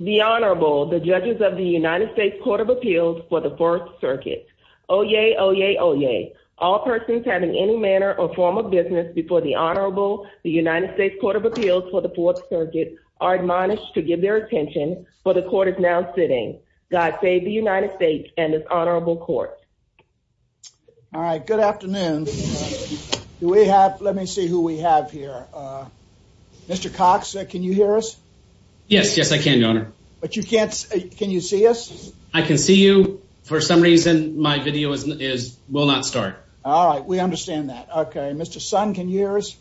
The Honorable, the Judges of the United States Court of Appeals for the Fourth Circuit. Oyez, oyez, oyez. All persons having any manner or form of business before the Honorable, the United States Court of Appeals for the Fourth Circuit, are admonished to give their attention, for the Court is now sitting. God save the United States and this Honorable Court. All right, good afternoon. Let me see who we have here. Mr. Cox, can you hear us? Yes, yes I can, Your Honor. But you can't, can you see us? I can see you. For some reason, my video is, will not start. All right, we understand that. Okay, Mr. Sun, can you hear us?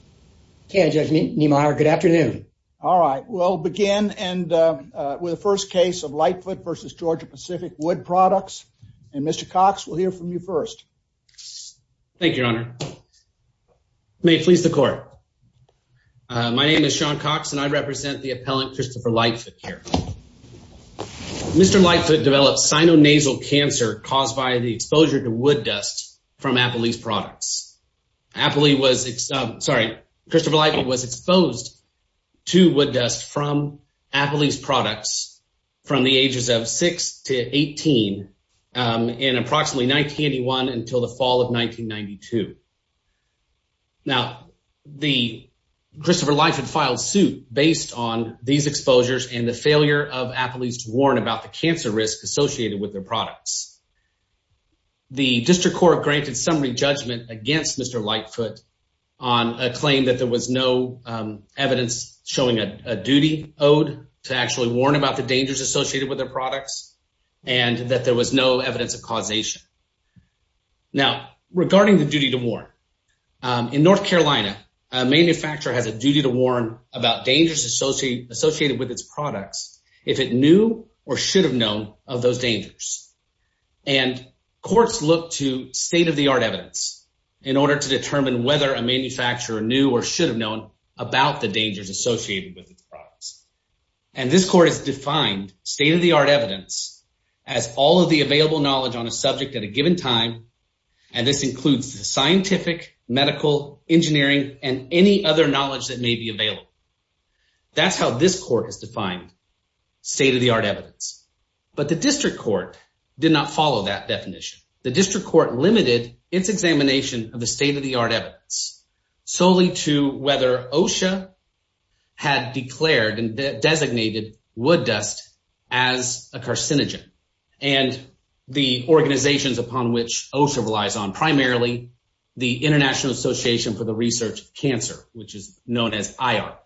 Yes, Judge Niemeyer, good afternoon. All right, we'll begin with the first case of Lightfoot v. Georgia-Pacific Wood Products, and Mr. Cox, we'll hear from you first. Thank you, Your Honor. May it please the Court. My name is Sean Cox, and I represent the appellant Christopher Lightfoot here. Mr. Lightfoot developed sinonasal cancer caused by the exposure to wood dust from Appalee's products. Appalee was, sorry, Christopher Lightfoot was exposed to wood dust from Appalee's products from the ages of 6 to 18 in approximately 1981 until the fall of 1992. Now, Christopher Lightfoot filed suit based on these exposures and the failure of Appalee's to warn about the cancer risk associated with their products. The District Court granted summary judgment against Mr. Lightfoot on a claim that there was no evidence showing a duty owed to actually warn about the dangers associated with their products and that there was no evidence of causation. Now, regarding the duty to warn, in North Carolina, a manufacturer has a duty to warn about dangers associated with its products if it knew or should have known of those dangers. And courts look to state-of-the-art evidence in order to determine whether a manufacturer knew or should have known about the dangers associated with its products. And this court has defined state-of-the-art evidence as all of the available knowledge on a subject at a given time. And this includes the scientific, medical, engineering, and any other knowledge that may be available. That's how this court has defined state-of-the-art evidence. But the District Court did not follow that definition. The District Court limited its examination of the state-of-the-art evidence solely to whether OSHA had declared and designated wood dust as a carcinogen and the organizations upon which OSHA relies on, primarily the International Association for the Research of Cancer, which is known as IARC.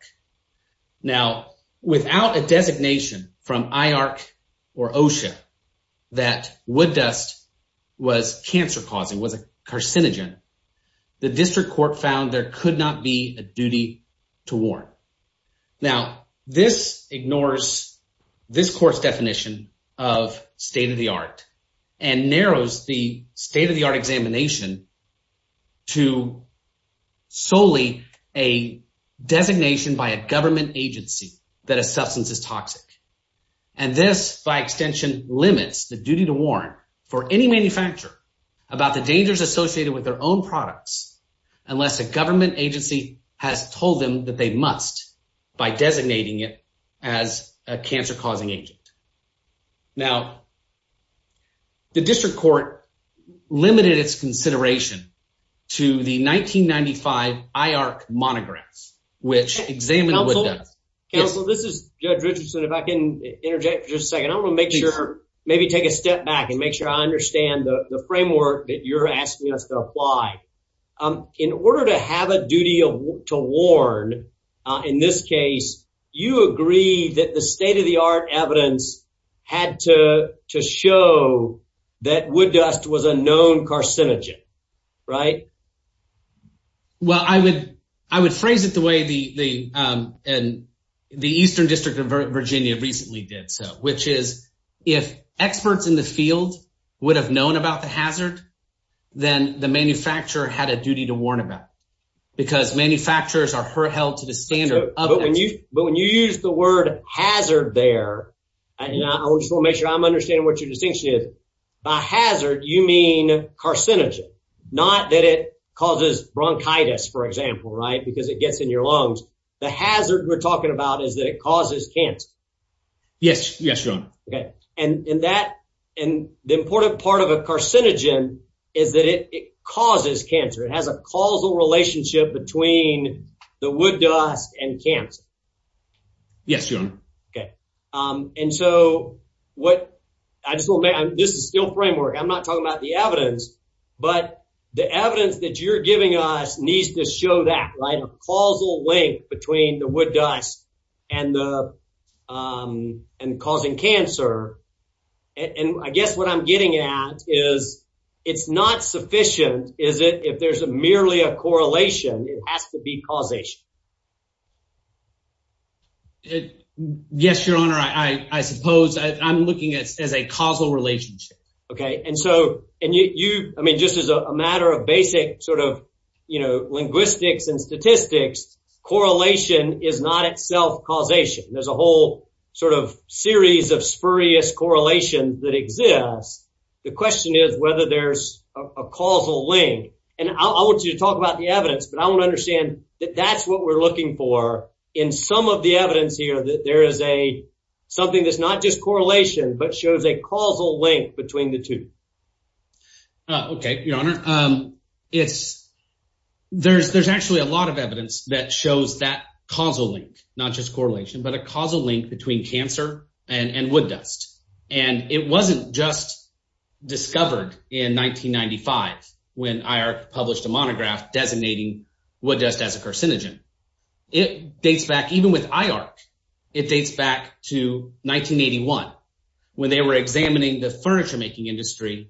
Now, without a designation from IARC or OSHA that wood dust was cancer-causing, was a carcinogen, the District Court found there could not be a duty to warn. Now, this ignores this court's definition of state-of-the-art and narrows the state-of-the-art examination to solely a designation by a government agency that a substance is toxic. And this, by extension, limits the duty to warn for any manufacturer about the dangers associated with their own products unless a government agency has told them that they must by designating it as a cancer-causing agent. Now, the District Court limited its consideration to the 1995 IARC monographs, which examined wood dust. Counsel, this is Judge Richardson. If I can interject for just a second, I want to make sure, maybe take a step back and make sure I understand the framework that you're asking us to apply. In order to have a duty to warn, in this case, you agree that the state-of-the-art evidence had to show that wood dust was a known carcinogen, right? Well, I would phrase it the way the Eastern District of Virginia recently did, which is, if experts in the field would have known about the hazard, then the manufacturer had a duty to warn about it because manufacturers are held to the standard. But when you use the word hazard there, and I just want to make sure I'm understanding what your distinction is, by hazard, you mean carcinogen, not that it causes bronchitis, for example, right, because it gets in your lungs. The hazard we're talking about is that it causes cancer. Yes, Your Honor. The important part of a carcinogen is that it causes cancer. It has a causal relationship between the wood dust and cancer. Yes, Your Honor. This is still framework. I'm not talking about the evidence, but the evidence that you're giving us needs to show that, right, a causal link between the wood dust and causing cancer. I guess what I'm getting at is it's not sufficient if there's merely a correlation. It has to be causation. Yes, Your Honor. I suppose I'm looking at it as a causal relationship. Okay. And so, and you, I mean, just as a matter of basic sort of, you know, linguistics and statistics, correlation is not itself causation. There's a whole sort of series of spurious correlation that exists. The question is whether there's a causal link. And I want you to talk about the evidence, but I want to understand that that's what we're looking for in some of the evidence here, that there is a, something that's not just correlation, but shows a causal link between the two. Okay, Your Honor. It's, there's actually a lot of evidence that shows that causal link, not just correlation, but a causal link between cancer and wood dust. And it wasn't just discovered in 1995 when IARC published a monograph designating wood dust as a carcinogen. It dates back, even with IARC, it dates back to 1981 when they were examining the furniture making industry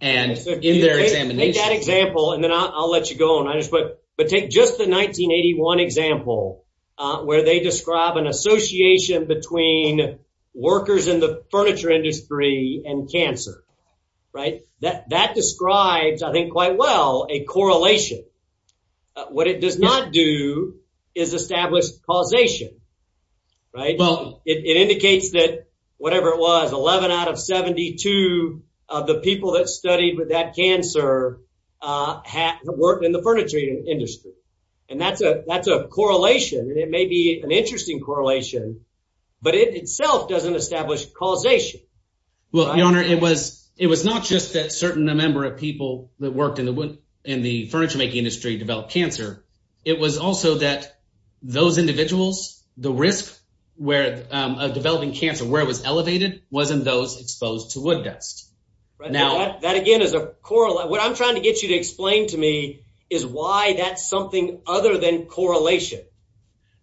and in their examination. Take that example, and then I'll let you go, but take just the 1981 example where they describe an association between workers in the furniture industry and cancer, right? That describes, I think quite well, a correlation. What it does not do is establish causation, right? Well, it indicates that whatever it was, 11 out of 72 of the people that studied with that cancer worked in the furniture industry. And that's a correlation, and it may be an interesting correlation, but it itself doesn't establish causation. Well, Your Honor, it was not just that certain number of people that worked in the furniture making industry developed cancer. It was also that those individuals, the risk of developing cancer, where it was elevated, wasn't those exposed to wood dust. That again is a, what I'm trying to get you to explain to me is why that's something other than correlation.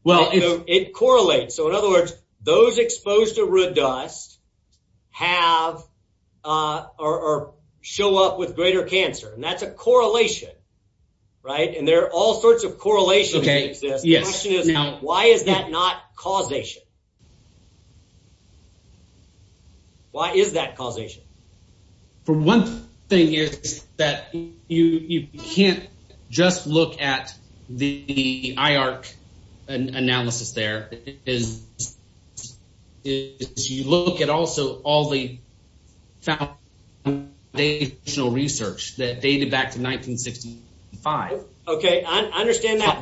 It correlates. So in other words, those exposed to wood dust have or show up with greater cancer, and that's a correlation, right? And there are all sorts of correlations that exist. The question is, why is that not causation? Why is that causation? For one thing is that you can't just look at the IARC analysis there. You look at also all the foundational research that dated back to 1965. Okay, I understand that.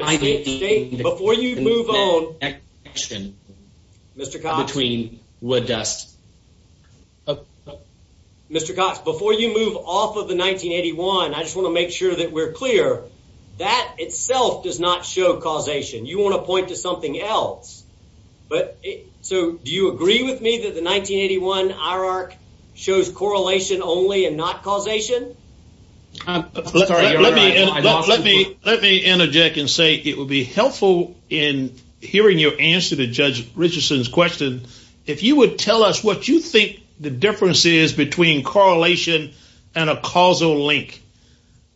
Before you move on, Mr. Cox. Mr. Cox, before you move off of the 1981, I just want to make sure that we're clear. That itself does not show causation. You want to point to something else. But so do you agree with me that the 1981 IARC shows correlation only and not causation? Let me interject and say it would be helpful in hearing your answer to Judge Richardson's question. If you would tell us what you think the difference is between correlation and a causal link.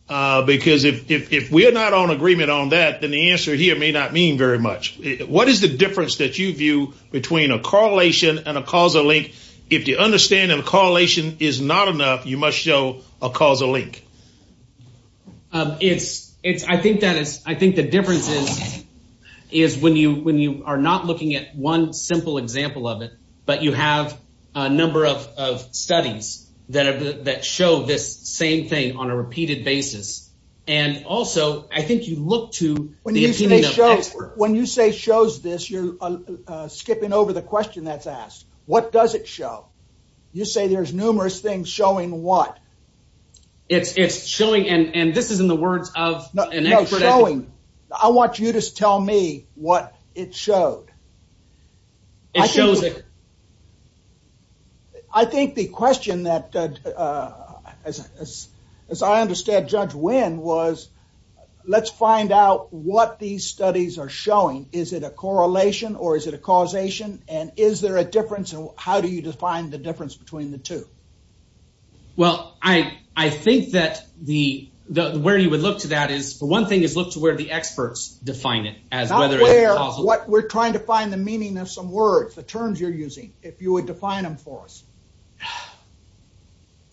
Because if we're not on agreement on that, then the answer here may not mean very much. What is the difference that you view between a correlation and a causal link? If the understanding of correlation is not enough, you must show a causal link. I think the difference is when you are not looking at one simple example of it, but you have a number of studies that show this same thing on a repeated basis. And also, I think you look to the opinion of experts. When you say shows this, you're skipping over the question that's asked. What does it show? You say there's numerous things showing what? It's showing, and this is in the words of an expert. No, showing. I want you to tell me what it showed. It shows it. I think the question that, as I understand Judge Wynn, was let's find out what these studies are showing. Is it a correlation or is it a causation? And is there a difference, and how do you define the difference between the two? Well, I think that where you would look to that is, for one thing, is look to where the experts define it. Not where, but we're trying to find the meaning of some words, the terms you're using, if you would define them for us.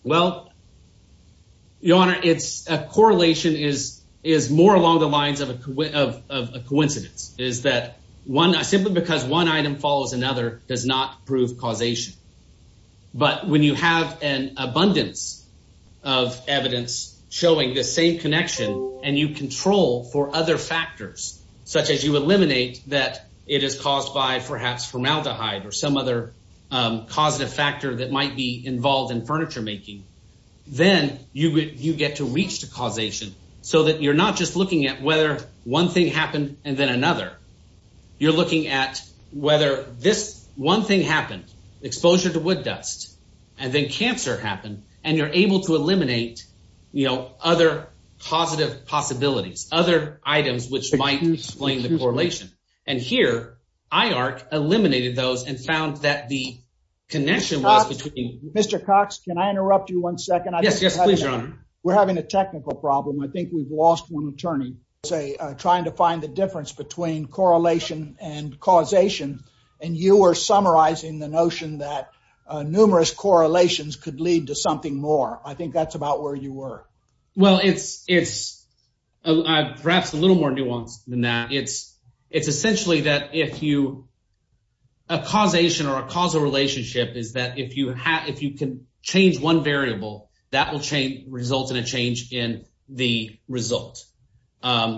Well, Your Honor, a correlation is more along the lines of a coincidence. It is that simply because one item follows another does not prove causation. But when you have an abundance of evidence showing the same connection, and you control for other factors, such as you eliminate that it is caused by perhaps formaldehyde or some other causative factor that might be involved in furniture making, then you get to reach the causation so that you're not just looking at whether one thing happened and then another. You're looking at whether this one thing happened, exposure to wood dust, and then cancer happened, and you're able to eliminate other positive possibilities, other items which might explain the correlation. And here, IARC eliminated those and found that the connection was between… Mr. Cox, can I interrupt you one second? Yes, yes, please, Your Honor. We're having a technical problem. I think we've lost one attorney. …trying to find the difference between correlation and causation, and you were summarizing the notion that numerous correlations could lead to something more. I think that's about where you were. Well, it's perhaps a little more nuanced than that. It's essentially that if you…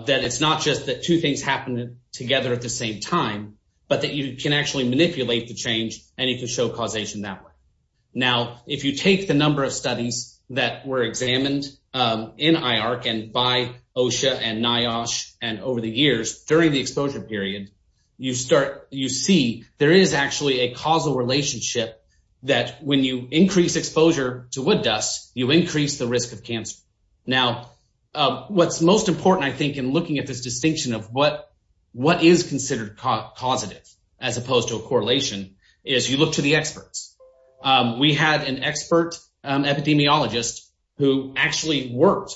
…that it's not just that two things happen together at the same time, but that you can actually manipulate the change and you can show causation that way. Now, if you take the number of studies that were examined in IARC and by OSHA and NIOSH and over the years during the exposure period, you see there is actually a causal relationship that when you increase exposure to wood dust, you increase the risk of cancer. Now, what's most important, I think, in looking at this distinction of what is considered causative as opposed to a correlation is you look to the experts. We had an expert epidemiologist who actually worked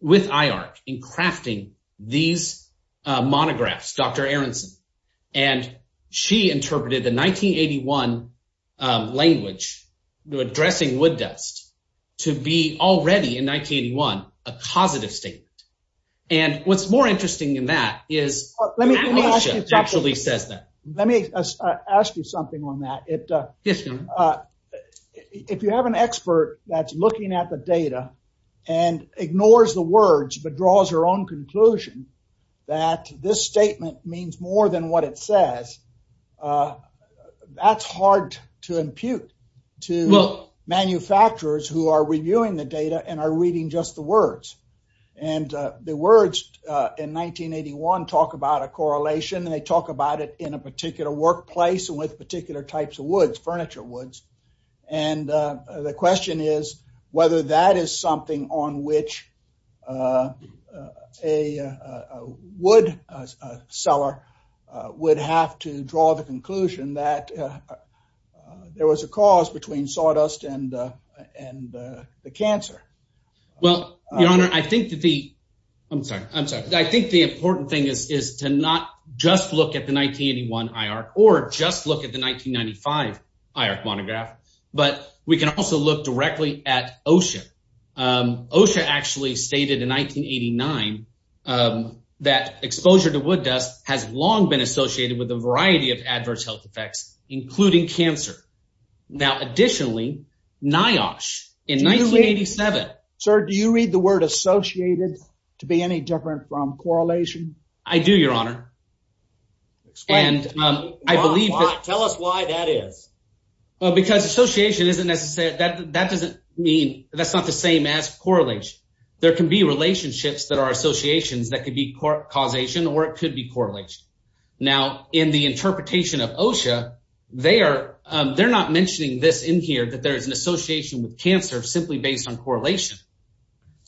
with IARC in crafting these monographs, Dr. Aronson. And she interpreted the 1981 language addressing wood dust to be already in 1981 a causative statement. And what's more interesting than that is… Let me ask you something on that. If you have an expert that's looking at the data and ignores the words but draws her own conclusion that this statement means more than what it says, that's hard to impute to manufacturers who are reviewing the data and are reading just the words. And the words in 1981 talk about a correlation and they talk about it in a particular workplace and with particular types of woods, furniture woods. And the question is whether that is something on which a wood seller would have to draw the conclusion that there was a cause between sawdust and the cancer. Well, Your Honor, I think the important thing is to not just look at the 1981 IARC or just look at the 1995 IARC monograph, but we can also look directly at OSHA. OSHA actually stated in 1989 that exposure to wood dust has long been associated with a variety of adverse health effects, including cancer. Now, additionally, NIOSH in 1987… Sir, do you read the word associated to be any different from correlation? I do, Your Honor. Explain. And I believe that… Tell us why that is. Because association isn't necessarily… that doesn't mean… that's not the same as correlation. There can be relationships that are associations that could be causation or it could be correlation. Now, in the interpretation of OSHA, they're not mentioning this in here that there is an association with cancer simply based on correlation.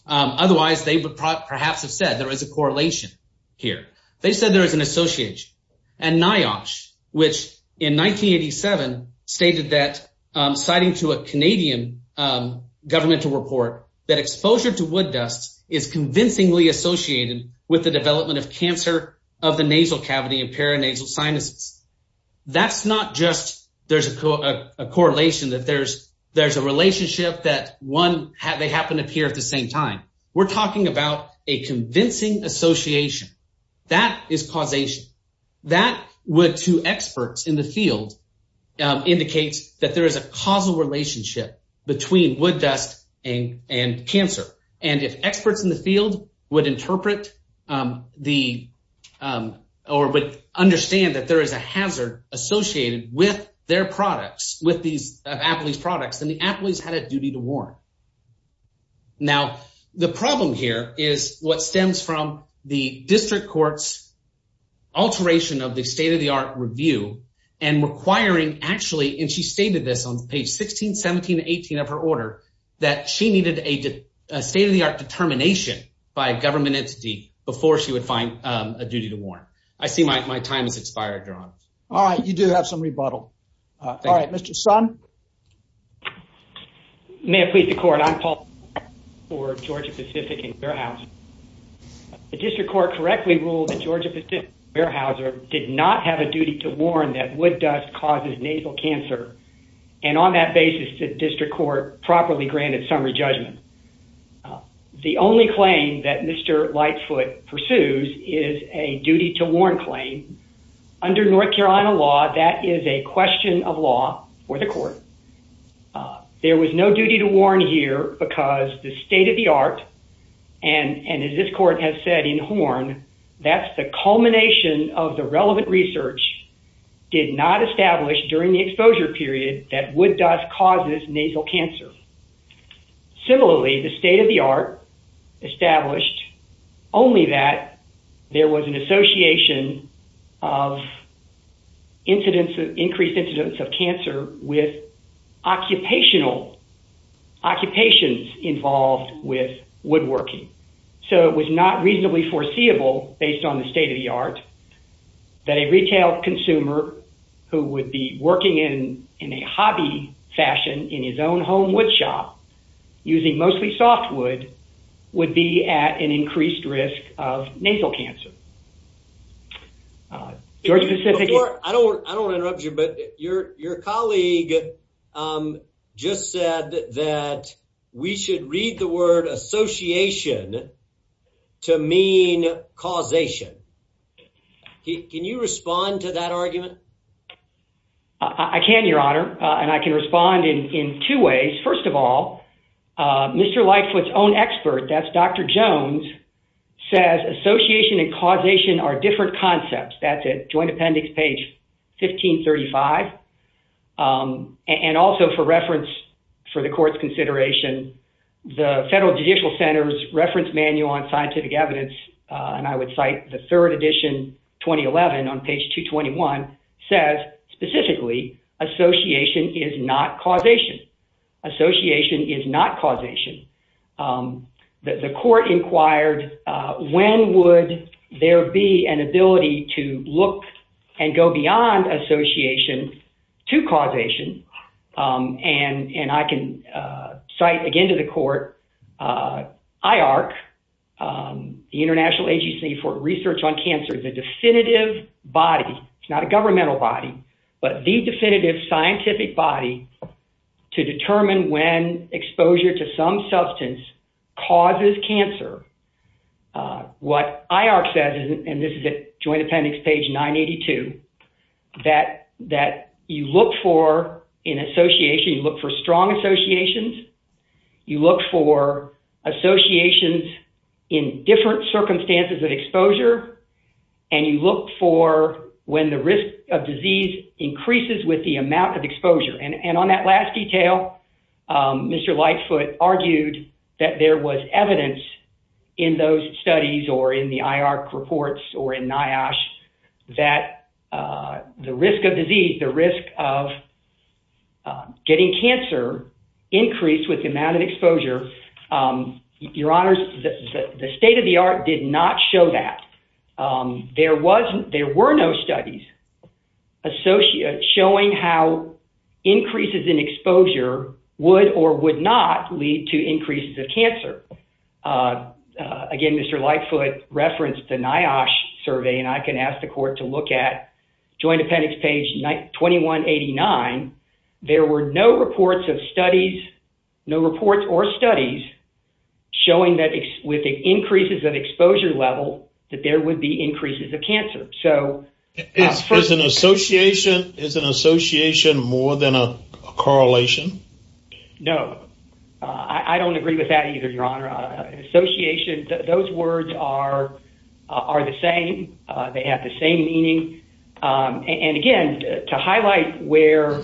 Otherwise, they would perhaps have said there is a correlation here. They said there is an association. And NIOSH, which in 1987 stated that, citing to a Canadian governmental report, that exposure to wood dust is convincingly associated with the development of cancer of the nasal cavity and paranasal sinuses. That's not just there's a correlation, that there's a relationship that one… they happen to appear at the same time. We're talking about a convincing association. That is causation. That would, to experts in the field, indicate that there is a causal relationship between wood dust and cancer. And if experts in the field would interpret the… or would understand that there is a hazard associated with their products, with these Apolyse products, then the Apolyse had a duty to warn. Now, the problem here is what stems from the district court's alteration of the state-of-the-art review and requiring actually – and she stated this on page 16, 17, and 18 of her order – that she needed a state-of-the-art determination by a government entity before she would find a duty to warn. I see my time has expired, Your Honor. All right, you do have some rebuttal. All right, Mr. Sun? May it please the Court, I'm Paul Sun for Georgia-Pacific and Fairhouse. The district court correctly ruled that Georgia-Pacific and Fairhouse did not have a duty to warn that wood dust causes nasal cancer. And on that basis, the district court properly granted summary judgment. The only claim that Mr. Lightfoot pursues is a duty to warn claim. Under North Carolina law, that is a question of law for the court. There was no duty to warn here because the state-of-the-art, and as this court has said in Horn, that's the culmination of the relevant research, did not establish during the exposure period that wood dust causes nasal cancer. Similarly, the state-of-the-art established only that there was an association of increased incidence of cancer with occupations involved with woodworking. So it was not reasonably foreseeable, based on the state-of-the-art, that a retail consumer who would be working in a hobby fashion in his own home woodshop, using mostly softwood, would be at an increased risk of nasal cancer. I don't want to interrupt you, but your colleague just said that we should read the word association to mean causation. Can you respond to that argument? I can, Your Honor, and I can respond in two ways. First of all, Mr. Lightfoot's own expert, that's Dr. Jones, says association and causation are different concepts. That's at Joint Appendix, page 1535. And also for reference for the court's consideration, the Federal Judicial Center's Reference Manual on Scientific Evidence, and I would cite the third edition, 2011, on page 221, says, specifically, association is not causation. Association is not causation. The court inquired, when would there be an ability to look and go beyond association to causation? And I can cite, again, to the court, IARC, the International Agency for Research on Cancer, the definitive body, not a governmental body, but the definitive scientific body to determine when exposure to some substance causes cancer. What IARC says, and this is at Joint Appendix, page 982, that you look for in association, you look for strong associations, you look for associations in different circumstances of exposure, and you look for when the risk of disease increases with the amount of exposure. And on that last detail, Mr. Lightfoot argued that there was evidence in those studies or in the IARC reports or in NIOSH that the risk of disease, the risk of getting cancer increased with the amount of exposure. Your Honors, the state of the art did not show that. There were no studies showing how increases in exposure would or would not lead to increases of cancer. Again, Mr. Lightfoot referenced the NIOSH survey, and I can ask the court to look at Joint Appendix, page 2189. There were no reports of studies, no reports or studies, showing that with the increases of exposure level, that there would be increases of cancer. Is an association more than a correlation? No. I don't agree with that either, Your Honor. Those words are the same. They have the same meaning. And again, to highlight where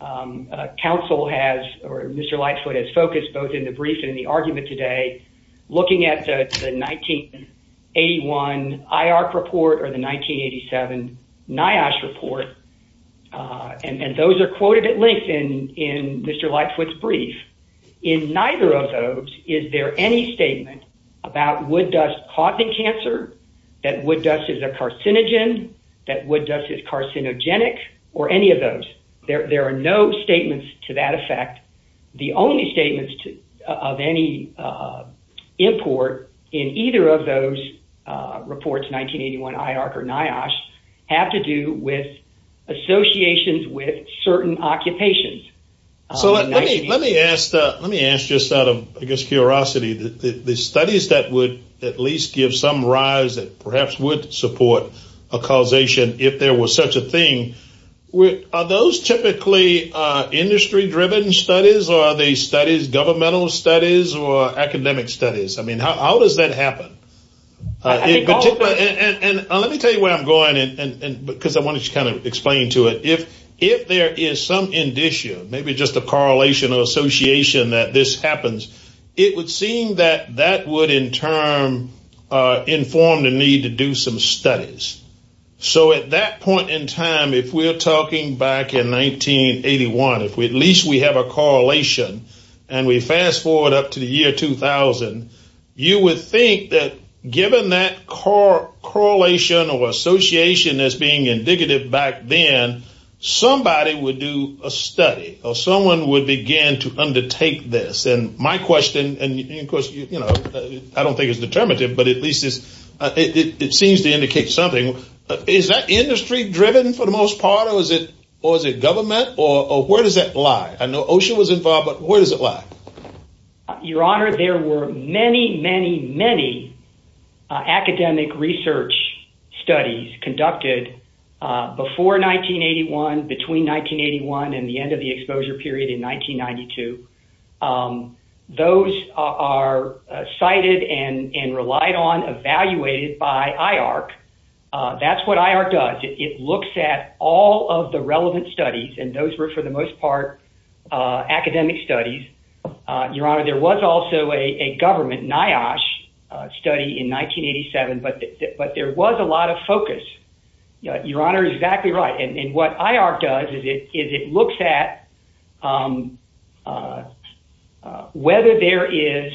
counsel has or Mr. Lightfoot has focused both in the brief and in the argument today, looking at the 1981 IARC report or the 1987 NIOSH report, and those are quoted at length in Mr. Lightfoot's brief. In neither of those, is there any statement about wood dust causing cancer, that wood dust is a carcinogen, that wood dust is carcinogenic, or any of those? There are no statements to that effect. The only statements of any import in either of those reports, 1981 IARC or NIOSH, have to do with associations with certain occupations. So let me ask just out of, I guess, curiosity, the studies that would at least give some rise that perhaps would support a causation if there was such a thing. Are those typically industry-driven studies or are they studies, governmental studies or academic studies? I mean, how does that happen? And let me tell you where I'm going, because I wanted to kind of explain to it. If there is some indicia, maybe just a correlation or association that this happens, it would seem that that would in turn inform the need to do some studies. So at that point in time, if we're talking back in 1981, if at least we have a correlation and we fast forward up to the year 2000, you would think that given that correlation or association that's being indicative back then, somebody would do a study or someone would begin to undertake this. And my question, and of course, you know, I don't think it's determinative, but at least it seems to indicate something. Is that industry-driven for the most part or is it government or where does that lie? I know OSHA was involved, but where does it lie? Your Honor, there were many, many, many academic research studies conducted before 1981, between 1981 and the end of the exposure period in 1992. Those are cited and relied on, evaluated by IARC. That's what IARC does. It looks at all of the relevant studies and those were for the most part academic studies. Your Honor, there was also a government NIOSH study in 1987, but there was a lot of focus. Your Honor is exactly right. And what IARC does is it looks at whether there is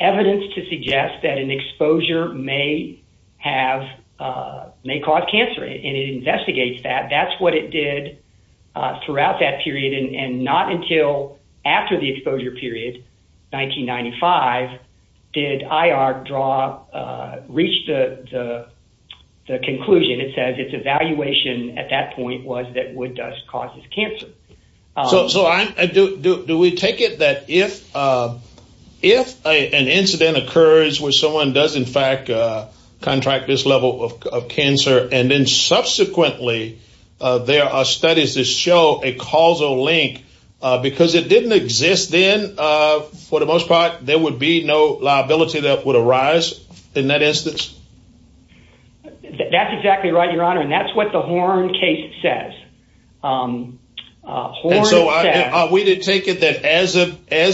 evidence to suggest that an exposure may cause cancer and it investigates that. That's what it did throughout that period and not until after the exposure period, 1995, did IARC reach the conclusion. It says its evaluation at that point was that wood dust causes cancer. So do we take it that if an incident occurs where someone does in fact contract this level of cancer and then subsequently there are studies that show a causal link, because it didn't exist then, for the most part there would be no liability that would arise in that instance? That's exactly right, Your Honor, and that's what the Horn case says. And so are we to take it that as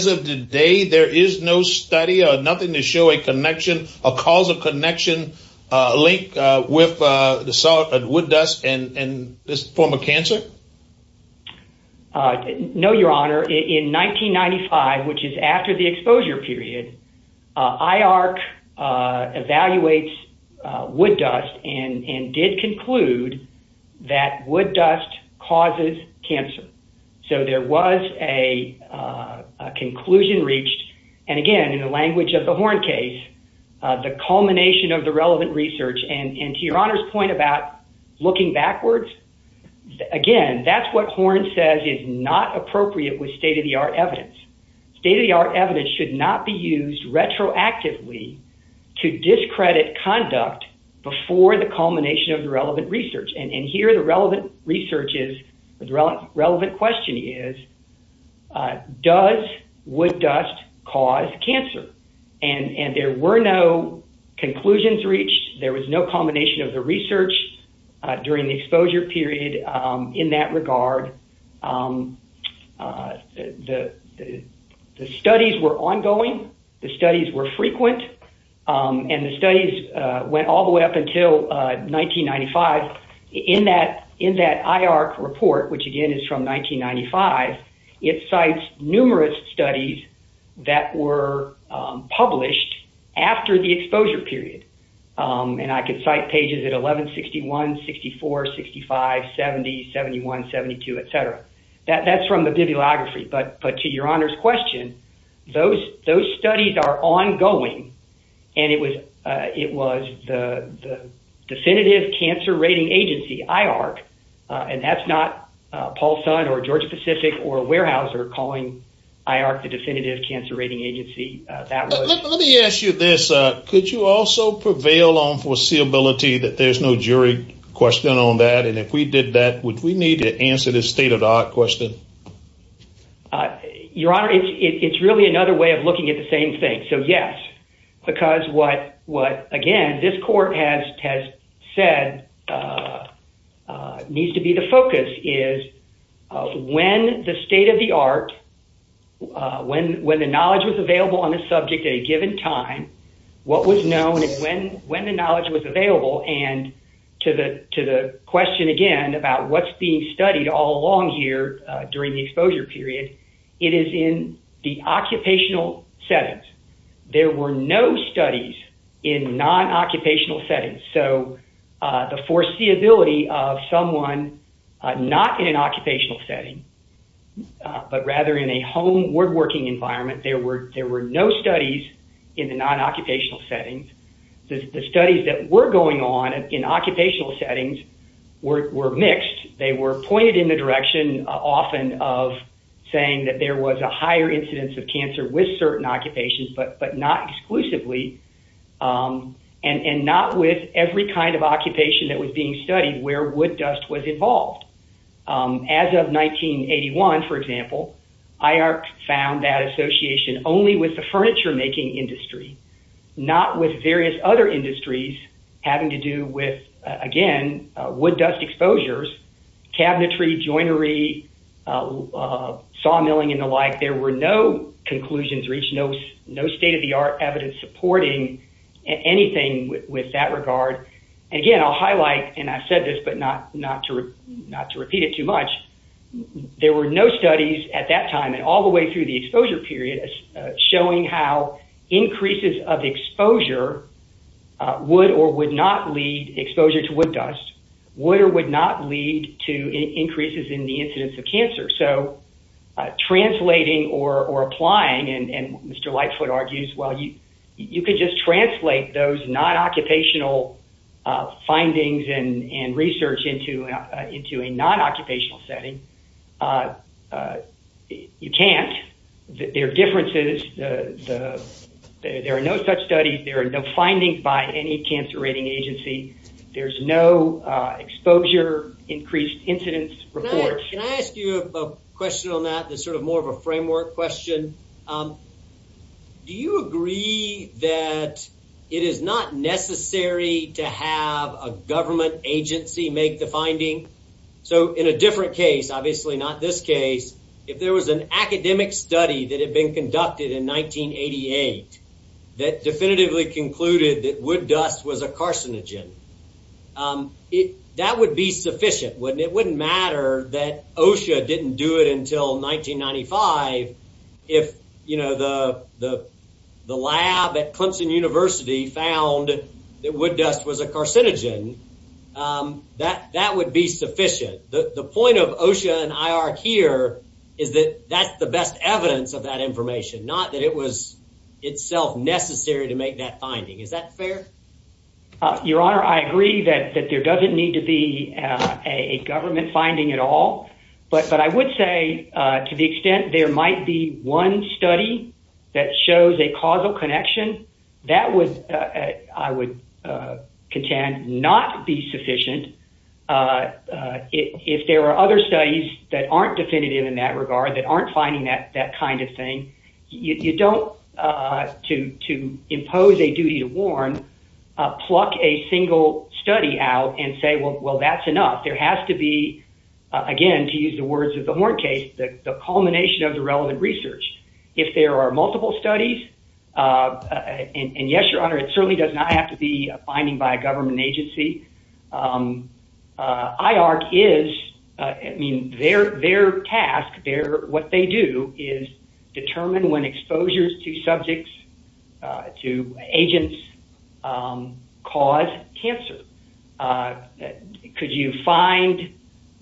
of today there is no study, nothing to show a connection, a causal connection, a link with wood dust and this form of cancer? No, Your Honor. In 1995, which is after the exposure period, IARC evaluates wood dust and did conclude that wood dust causes cancer. So there was a conclusion reached, and again, in the language of the Horn case, the culmination of the relevant research, and to Your Honor's point about looking backwards, again, that's what Horn says is not appropriate with state-of-the-art evidence. State-of-the-art evidence should not be used retroactively to discredit conduct before the culmination of the relevant research. And here the relevant question is, does wood dust cause cancer? And there were no conclusions reached, there was no culmination of the research during the exposure period in that regard. The studies were ongoing, the studies were frequent, and the studies went all the way up until 1995. In that IARC report, which again is from 1995, it cites numerous studies that were published after the exposure period. And I could cite pages at 1161, 64, 65, 70, 71, 72, etc. That's from the bibliography, but to Your Honor's question, those studies are ongoing, and it was the definitive cancer rating agency, IARC, and that's not Paul Sun or Georgia Pacific or Weyerhaeuser calling IARC the definitive cancer rating agency. Let me ask you this. Could you also prevail on foreseeability that there's no jury question on that? And if we did that, would we need to answer the state-of-the-art question? Your Honor, it's really another way of looking at the same thing. So yes, because what, again, this court has said needs to be the focus is when the state-of-the-art, when the knowledge was available on the subject at a given time, what was known and when the knowledge was available, and to the question again about what's being studied all along here during the exposure period, it is in the occupational settings. There were no studies in non-occupational settings. So the foreseeability of someone not in an occupational setting, but rather in a home, woodworking environment, there were no studies in the non-occupational settings. The studies that were going on in occupational settings were mixed. They were pointed in the direction often of saying that there was a higher incidence of cancer with certain occupations, but not exclusively, and not with every kind of occupation that was being studied where wood dust was involved. As of 1981, for example, IARC found that association only with the furniture-making industry, not with various other industries having to do with, again, wood dust exposures, cabinetry, joinery, sawmilling, and the like. There were no conclusions reached, no state-of-the-art evidence supporting anything with that regard. Again, I'll highlight, and I said this, but not to repeat it too much. There were no studies at that time, and all the way through the exposure period, showing how increases of exposure would or would not lead, exposure to wood dust, would or would not lead to increases in the incidence of cancer. So translating or applying, and Mr. Lightfoot argues, well, you could just translate those non-occupational findings and research into a non-occupational setting. You can't. There are differences. There are no such studies. There are no findings by any cancer rating agency. There's no exposure, increased incidence reports. Can I ask you a question on that? It's sort of more of a framework question. Do you agree that it is not necessary to have a government agency make the finding? So in a different case, obviously not this case, if there was an academic study that had been conducted in 1988 that definitively concluded that wood dust was a carcinogen, that would be sufficient, wouldn't it? It wouldn't matter that OSHA didn't do it until 1995 if, you know, the lab at Clemson University found that wood dust was a carcinogen. That would be sufficient. The point of OSHA and IARC here is that that's the best evidence of that information, not that it was itself necessary to make that finding. Is that fair? Your Honor, I agree that there doesn't need to be a government finding at all. But I would say to the extent there might be one study that shows a causal connection, that would, I would contend, not be sufficient. If there are other studies that aren't definitive in that regard, that aren't finding that kind of thing, you don't, to impose a duty to warn, pluck a single study out and say, well, that's enough. There has to be, again, to use the words of the Horn case, the culmination of the relevant research. If there are multiple studies, and yes, Your Honor, it certainly does not have to be a finding by a government agency. IARC is, I mean, their task, what they do is determine when exposures to subjects, to agents, cause cancer. Could you find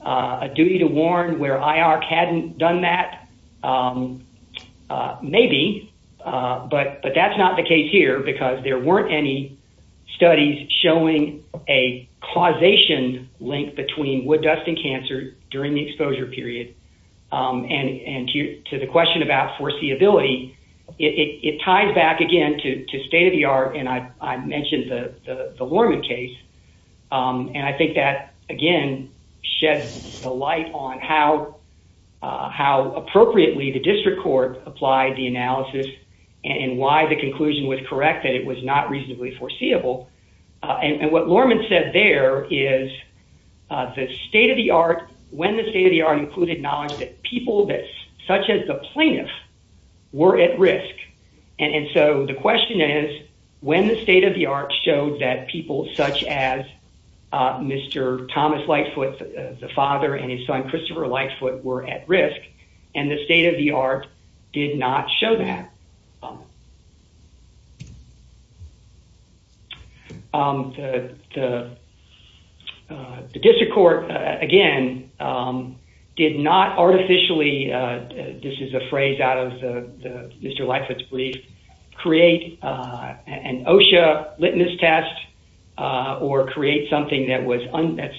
a duty to warn where IARC hadn't done that? Maybe. But that's not the case here because there weren't any studies showing a causation link between wood dust and cancer during the exposure period. And to the question about foreseeability, it ties back again to state of the art, and I mentioned the Lorman case. And I think that, again, sheds the light on how appropriately the district court applied the analysis and why the conclusion was correct that it was not reasonably foreseeable. And what Lorman said there is the state of the art, when the state of the art included knowledge that people such as the plaintiff were at risk. And so the question is, when the state of the art showed that people such as Mr. Thomas Lightfoot, the father, and his son, Christopher Lightfoot, were at risk, and the state of the art did not show that. The district court, again, did not artificially, this is a phrase out of Mr. Lightfoot's brief, create an OSHA litmus test or create something that was, that's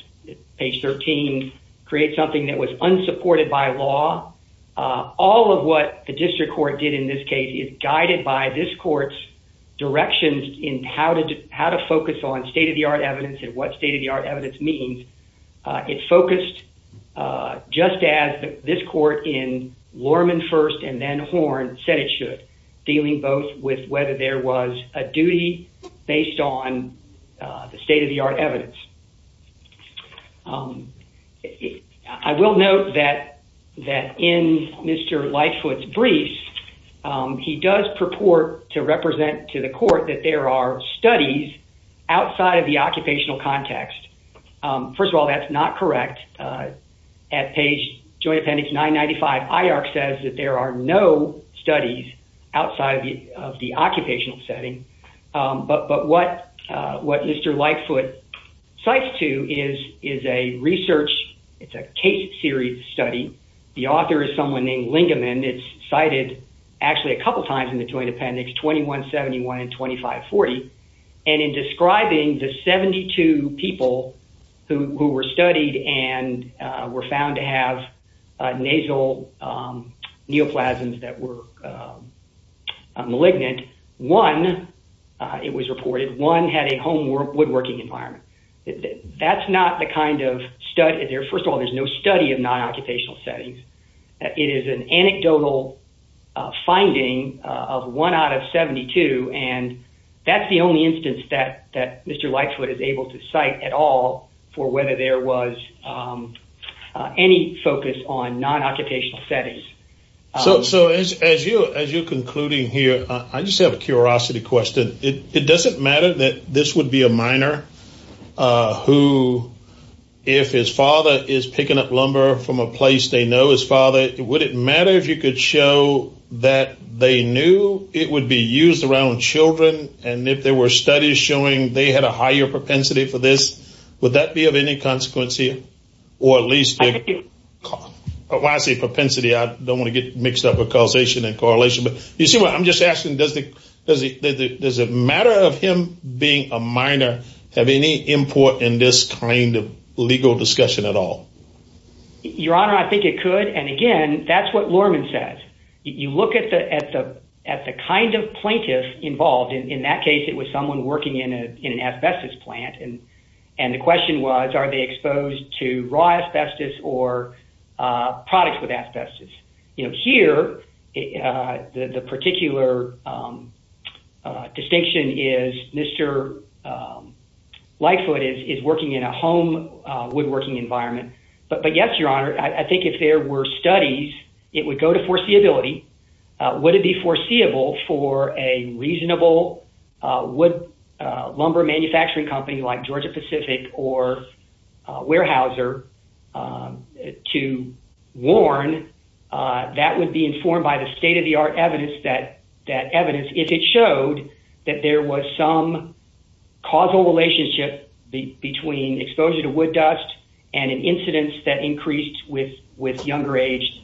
page 13, create something that was unsupported by law. All of what the district court did in this case is guided by this court's directions in how to focus on state of the art evidence and what state of the art evidence means. It focused just as this court in Lorman first and then Horn said it should, dealing both with whether there was a duty based on the state of the art evidence. I will note that in Mr. Lightfoot's briefs, he does purport to represent to the court that there are studies outside of the occupational context. First of all, that's not correct. At page Joint Appendix 995, IARC says that there are no studies outside of the occupational setting, but what Mr. Lightfoot cites to is a research, it's a case series study. The author is someone named Lingeman. It's cited actually a couple times in the Joint Appendix 2171 and 2540. In describing the 72 people who were studied and were found to have nasal neoplasms that were malignant, one, it was reported, one had a home woodworking environment. That's not the kind of study. First of all, there's no study of non-occupational settings. It is an anecdotal finding of one out of 72, and that's the only instance that Mr. Lightfoot is able to cite at all for whether there was any focus on non-occupational settings. So as you're concluding here, I just have a curiosity question. It doesn't matter that this would be a minor who, if his father is picking up lumber from a place they know his father, would it matter if you could show that they knew it would be used around children? And if there were studies showing they had a higher propensity for this, would that be of any consequence here? When I say propensity, I don't want to get mixed up with causation and correlation. You see what I'm just asking? Does the matter of him being a minor have any import in this kind of legal discussion at all? Your Honor, I think it could, and again, that's what Lorman says. You look at the kind of plaintiff involved. In that case, it was someone working in an asbestos plant. And the question was, are they exposed to raw asbestos or products with asbestos? Here, the particular distinction is Mr. Lightfoot is working in a home woodworking environment. But yes, Your Honor, I think if there were studies, it would go to foreseeability. Would it be foreseeable for a reasonable wood lumber manufacturing company like Georgia Pacific or Weyerhaeuser to warn that would be informed by the state-of-the-art evidence, if it showed that there was some causal relationship between exposure to wood dust and an incidence that increased with younger age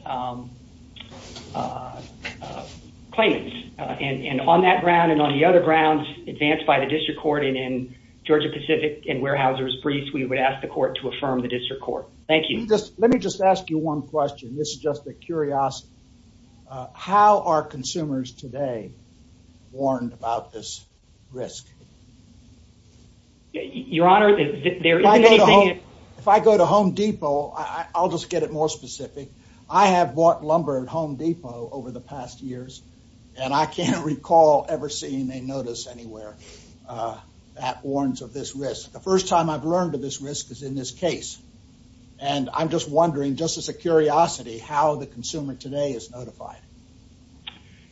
claimants? And on that ground and on the other grounds, advanced by the district court and in Georgia Pacific and Weyerhaeuser's brief, we would ask the court to affirm the district court. Thank you. Let me just ask you one question. This is just a curiosity. How are consumers today warned about this risk? If I go to Home Depot, I'll just get it more specific. I have bought lumber at Home Depot over the past years, and I can't recall ever seeing a notice anywhere that warns of this risk. The first time I've learned of this risk is in this case. And I'm just wondering, just as a curiosity, how the consumer today is notified.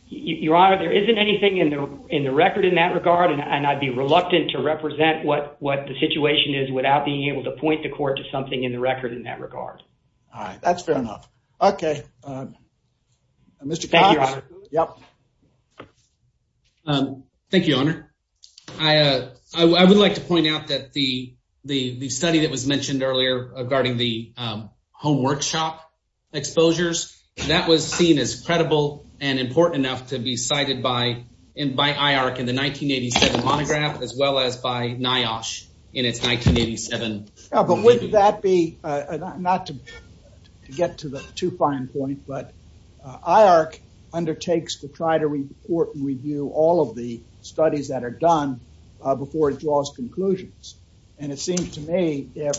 Your Honor, there isn't anything in the record in that regard, and I'd be reluctant to represent what the situation is without being able to point the court to something in the record in that regard. All right. That's fair enough. Okay. Mr. Cox? Thank you, Your Honor. I would like to point out that the study that was mentioned earlier regarding the home workshop exposures, that was seen as credible and important enough to be cited by IARC in the 1987 monograph, as well as by NIOSH in its 1987 monograph. But would that be, not to get to the too fine point, but IARC undertakes to try to report and review all of the studies that are done before it draws conclusions. And it seems to me if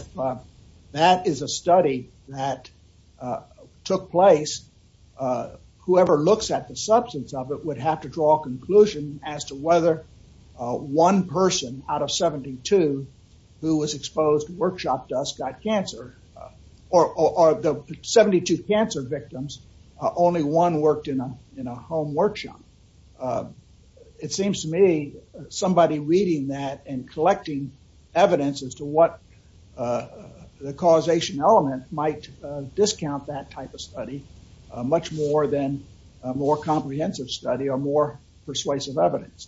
that is a study that took place, whoever looks at the substance of it would have to draw a conclusion as to whether one person out of 72 who was exposed to workshop dust got cancer. Or the 72 cancer victims, only one worked in a home workshop. It seems to me somebody reading that and collecting evidence as to what the causation element might discount that type of study much more than a more comprehensive study or more persuasive evidence.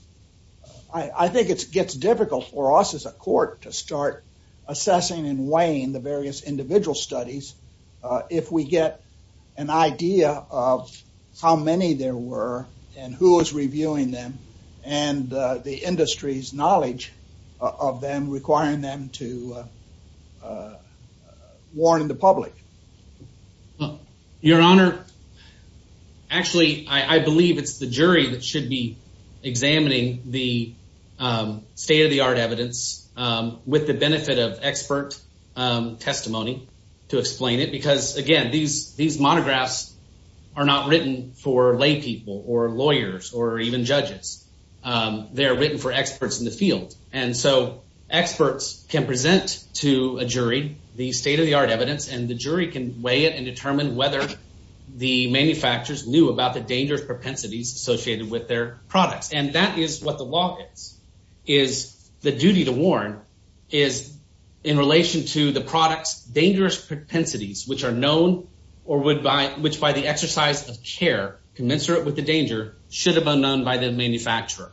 I think it gets difficult for us as a court to start assessing and weighing the various individual studies if we get an idea of how many there were and who was reviewing them and the industry's knowledge of them requiring them to warn the public. Your Honor, actually, I believe it's the jury that should be examining the state-of-the-art evidence with the benefit of expert testimony to explain it. Because, again, these monographs are not written for laypeople or lawyers or even judges. They are written for experts in the field. And so experts can present to a jury the state-of-the-art evidence, and the jury can weigh it and determine whether the manufacturers knew about the dangerous propensities associated with their products. And that is what the law is. The duty to warn is in relation to the product's dangerous propensities, which are known or which by the exercise of care commensurate with the danger should have been known by the manufacturer.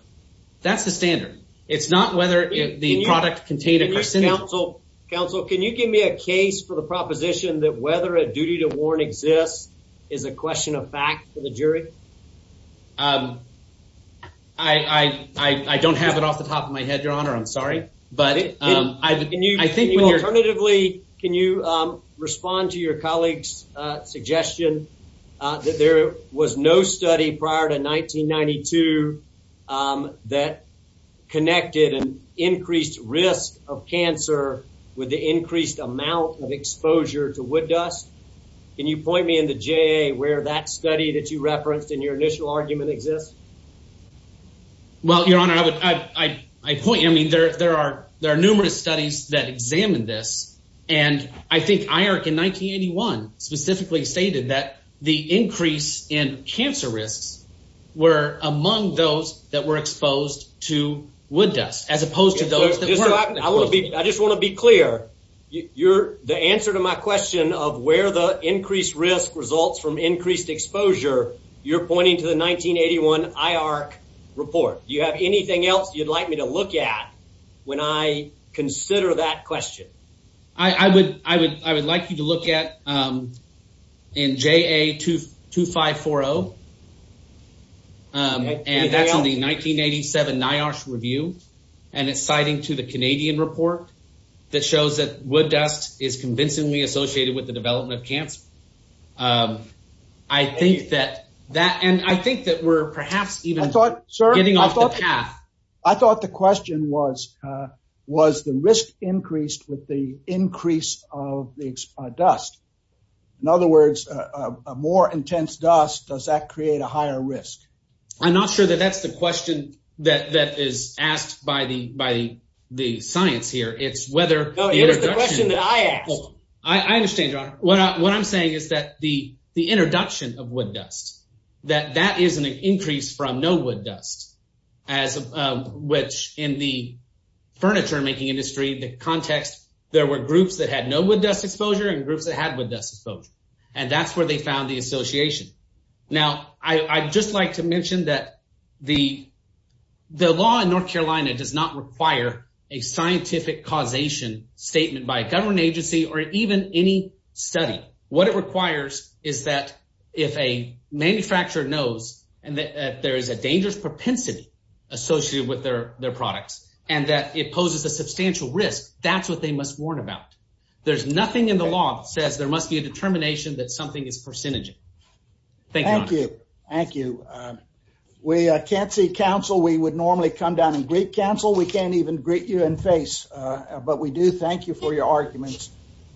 That's the standard. It's not whether the product contained a percentage. Counsel, can you give me a case for the proposition that whether a duty to warn exists is a question of fact for the jury? I don't have it off the top of my head, Your Honor. I'm sorry. Alternatively, can you respond to your colleague's suggestion that there was no study prior to 1992 that connected an increased risk of cancer with the increased amount of exposure to wood dust? Can you point me in the JA where that study that you referenced in your initial argument exists? Well, Your Honor, I point you. I mean there are numerous studies that examine this, and I think IARC in 1981 specifically stated that the increase in cancer risks were among those that were exposed to wood dust as opposed to those that weren't. I just want to be clear. The answer to my question of where the increased risk results from increased exposure, you're pointing to the 1981 IARC report. Do you have anything else you'd like me to look at when I consider that question? I would like you to look at in JA 2540, and that's in the 1987 NIOSH review, and it's citing to the Canadian report that shows that wood dust is convincingly associated with the development of cancer. I think that we're perhaps even getting off the path. I thought the question was, was the risk increased with the increase of the dust? In other words, a more intense dust, does that create a higher risk? I'm not sure that that's the question that is asked by the science here. It's whether the introduction… No, it is the question that I asked. I understand, Your Honor. What I'm saying is that the introduction of wood dust, that that is an increase from no wood dust, which in the furniture-making industry, the context, there were groups that had no wood dust exposure and groups that had wood dust exposure, and that's where they found the association. Now, I'd just like to mention that the law in North Carolina does not require a scientific causation statement by a government agency or even any study. What it requires is that if a manufacturer knows that there is a dangerous propensity associated with their products and that it poses a substantial risk, that's what they must warn about. There's nothing in the law that says there must be a determination that something is percentage. Thank you, Your Honor. Thank you. We can't see counsel. We would normally come down and greet counsel. We can't even greet you in face, but we do thank you for your arguments.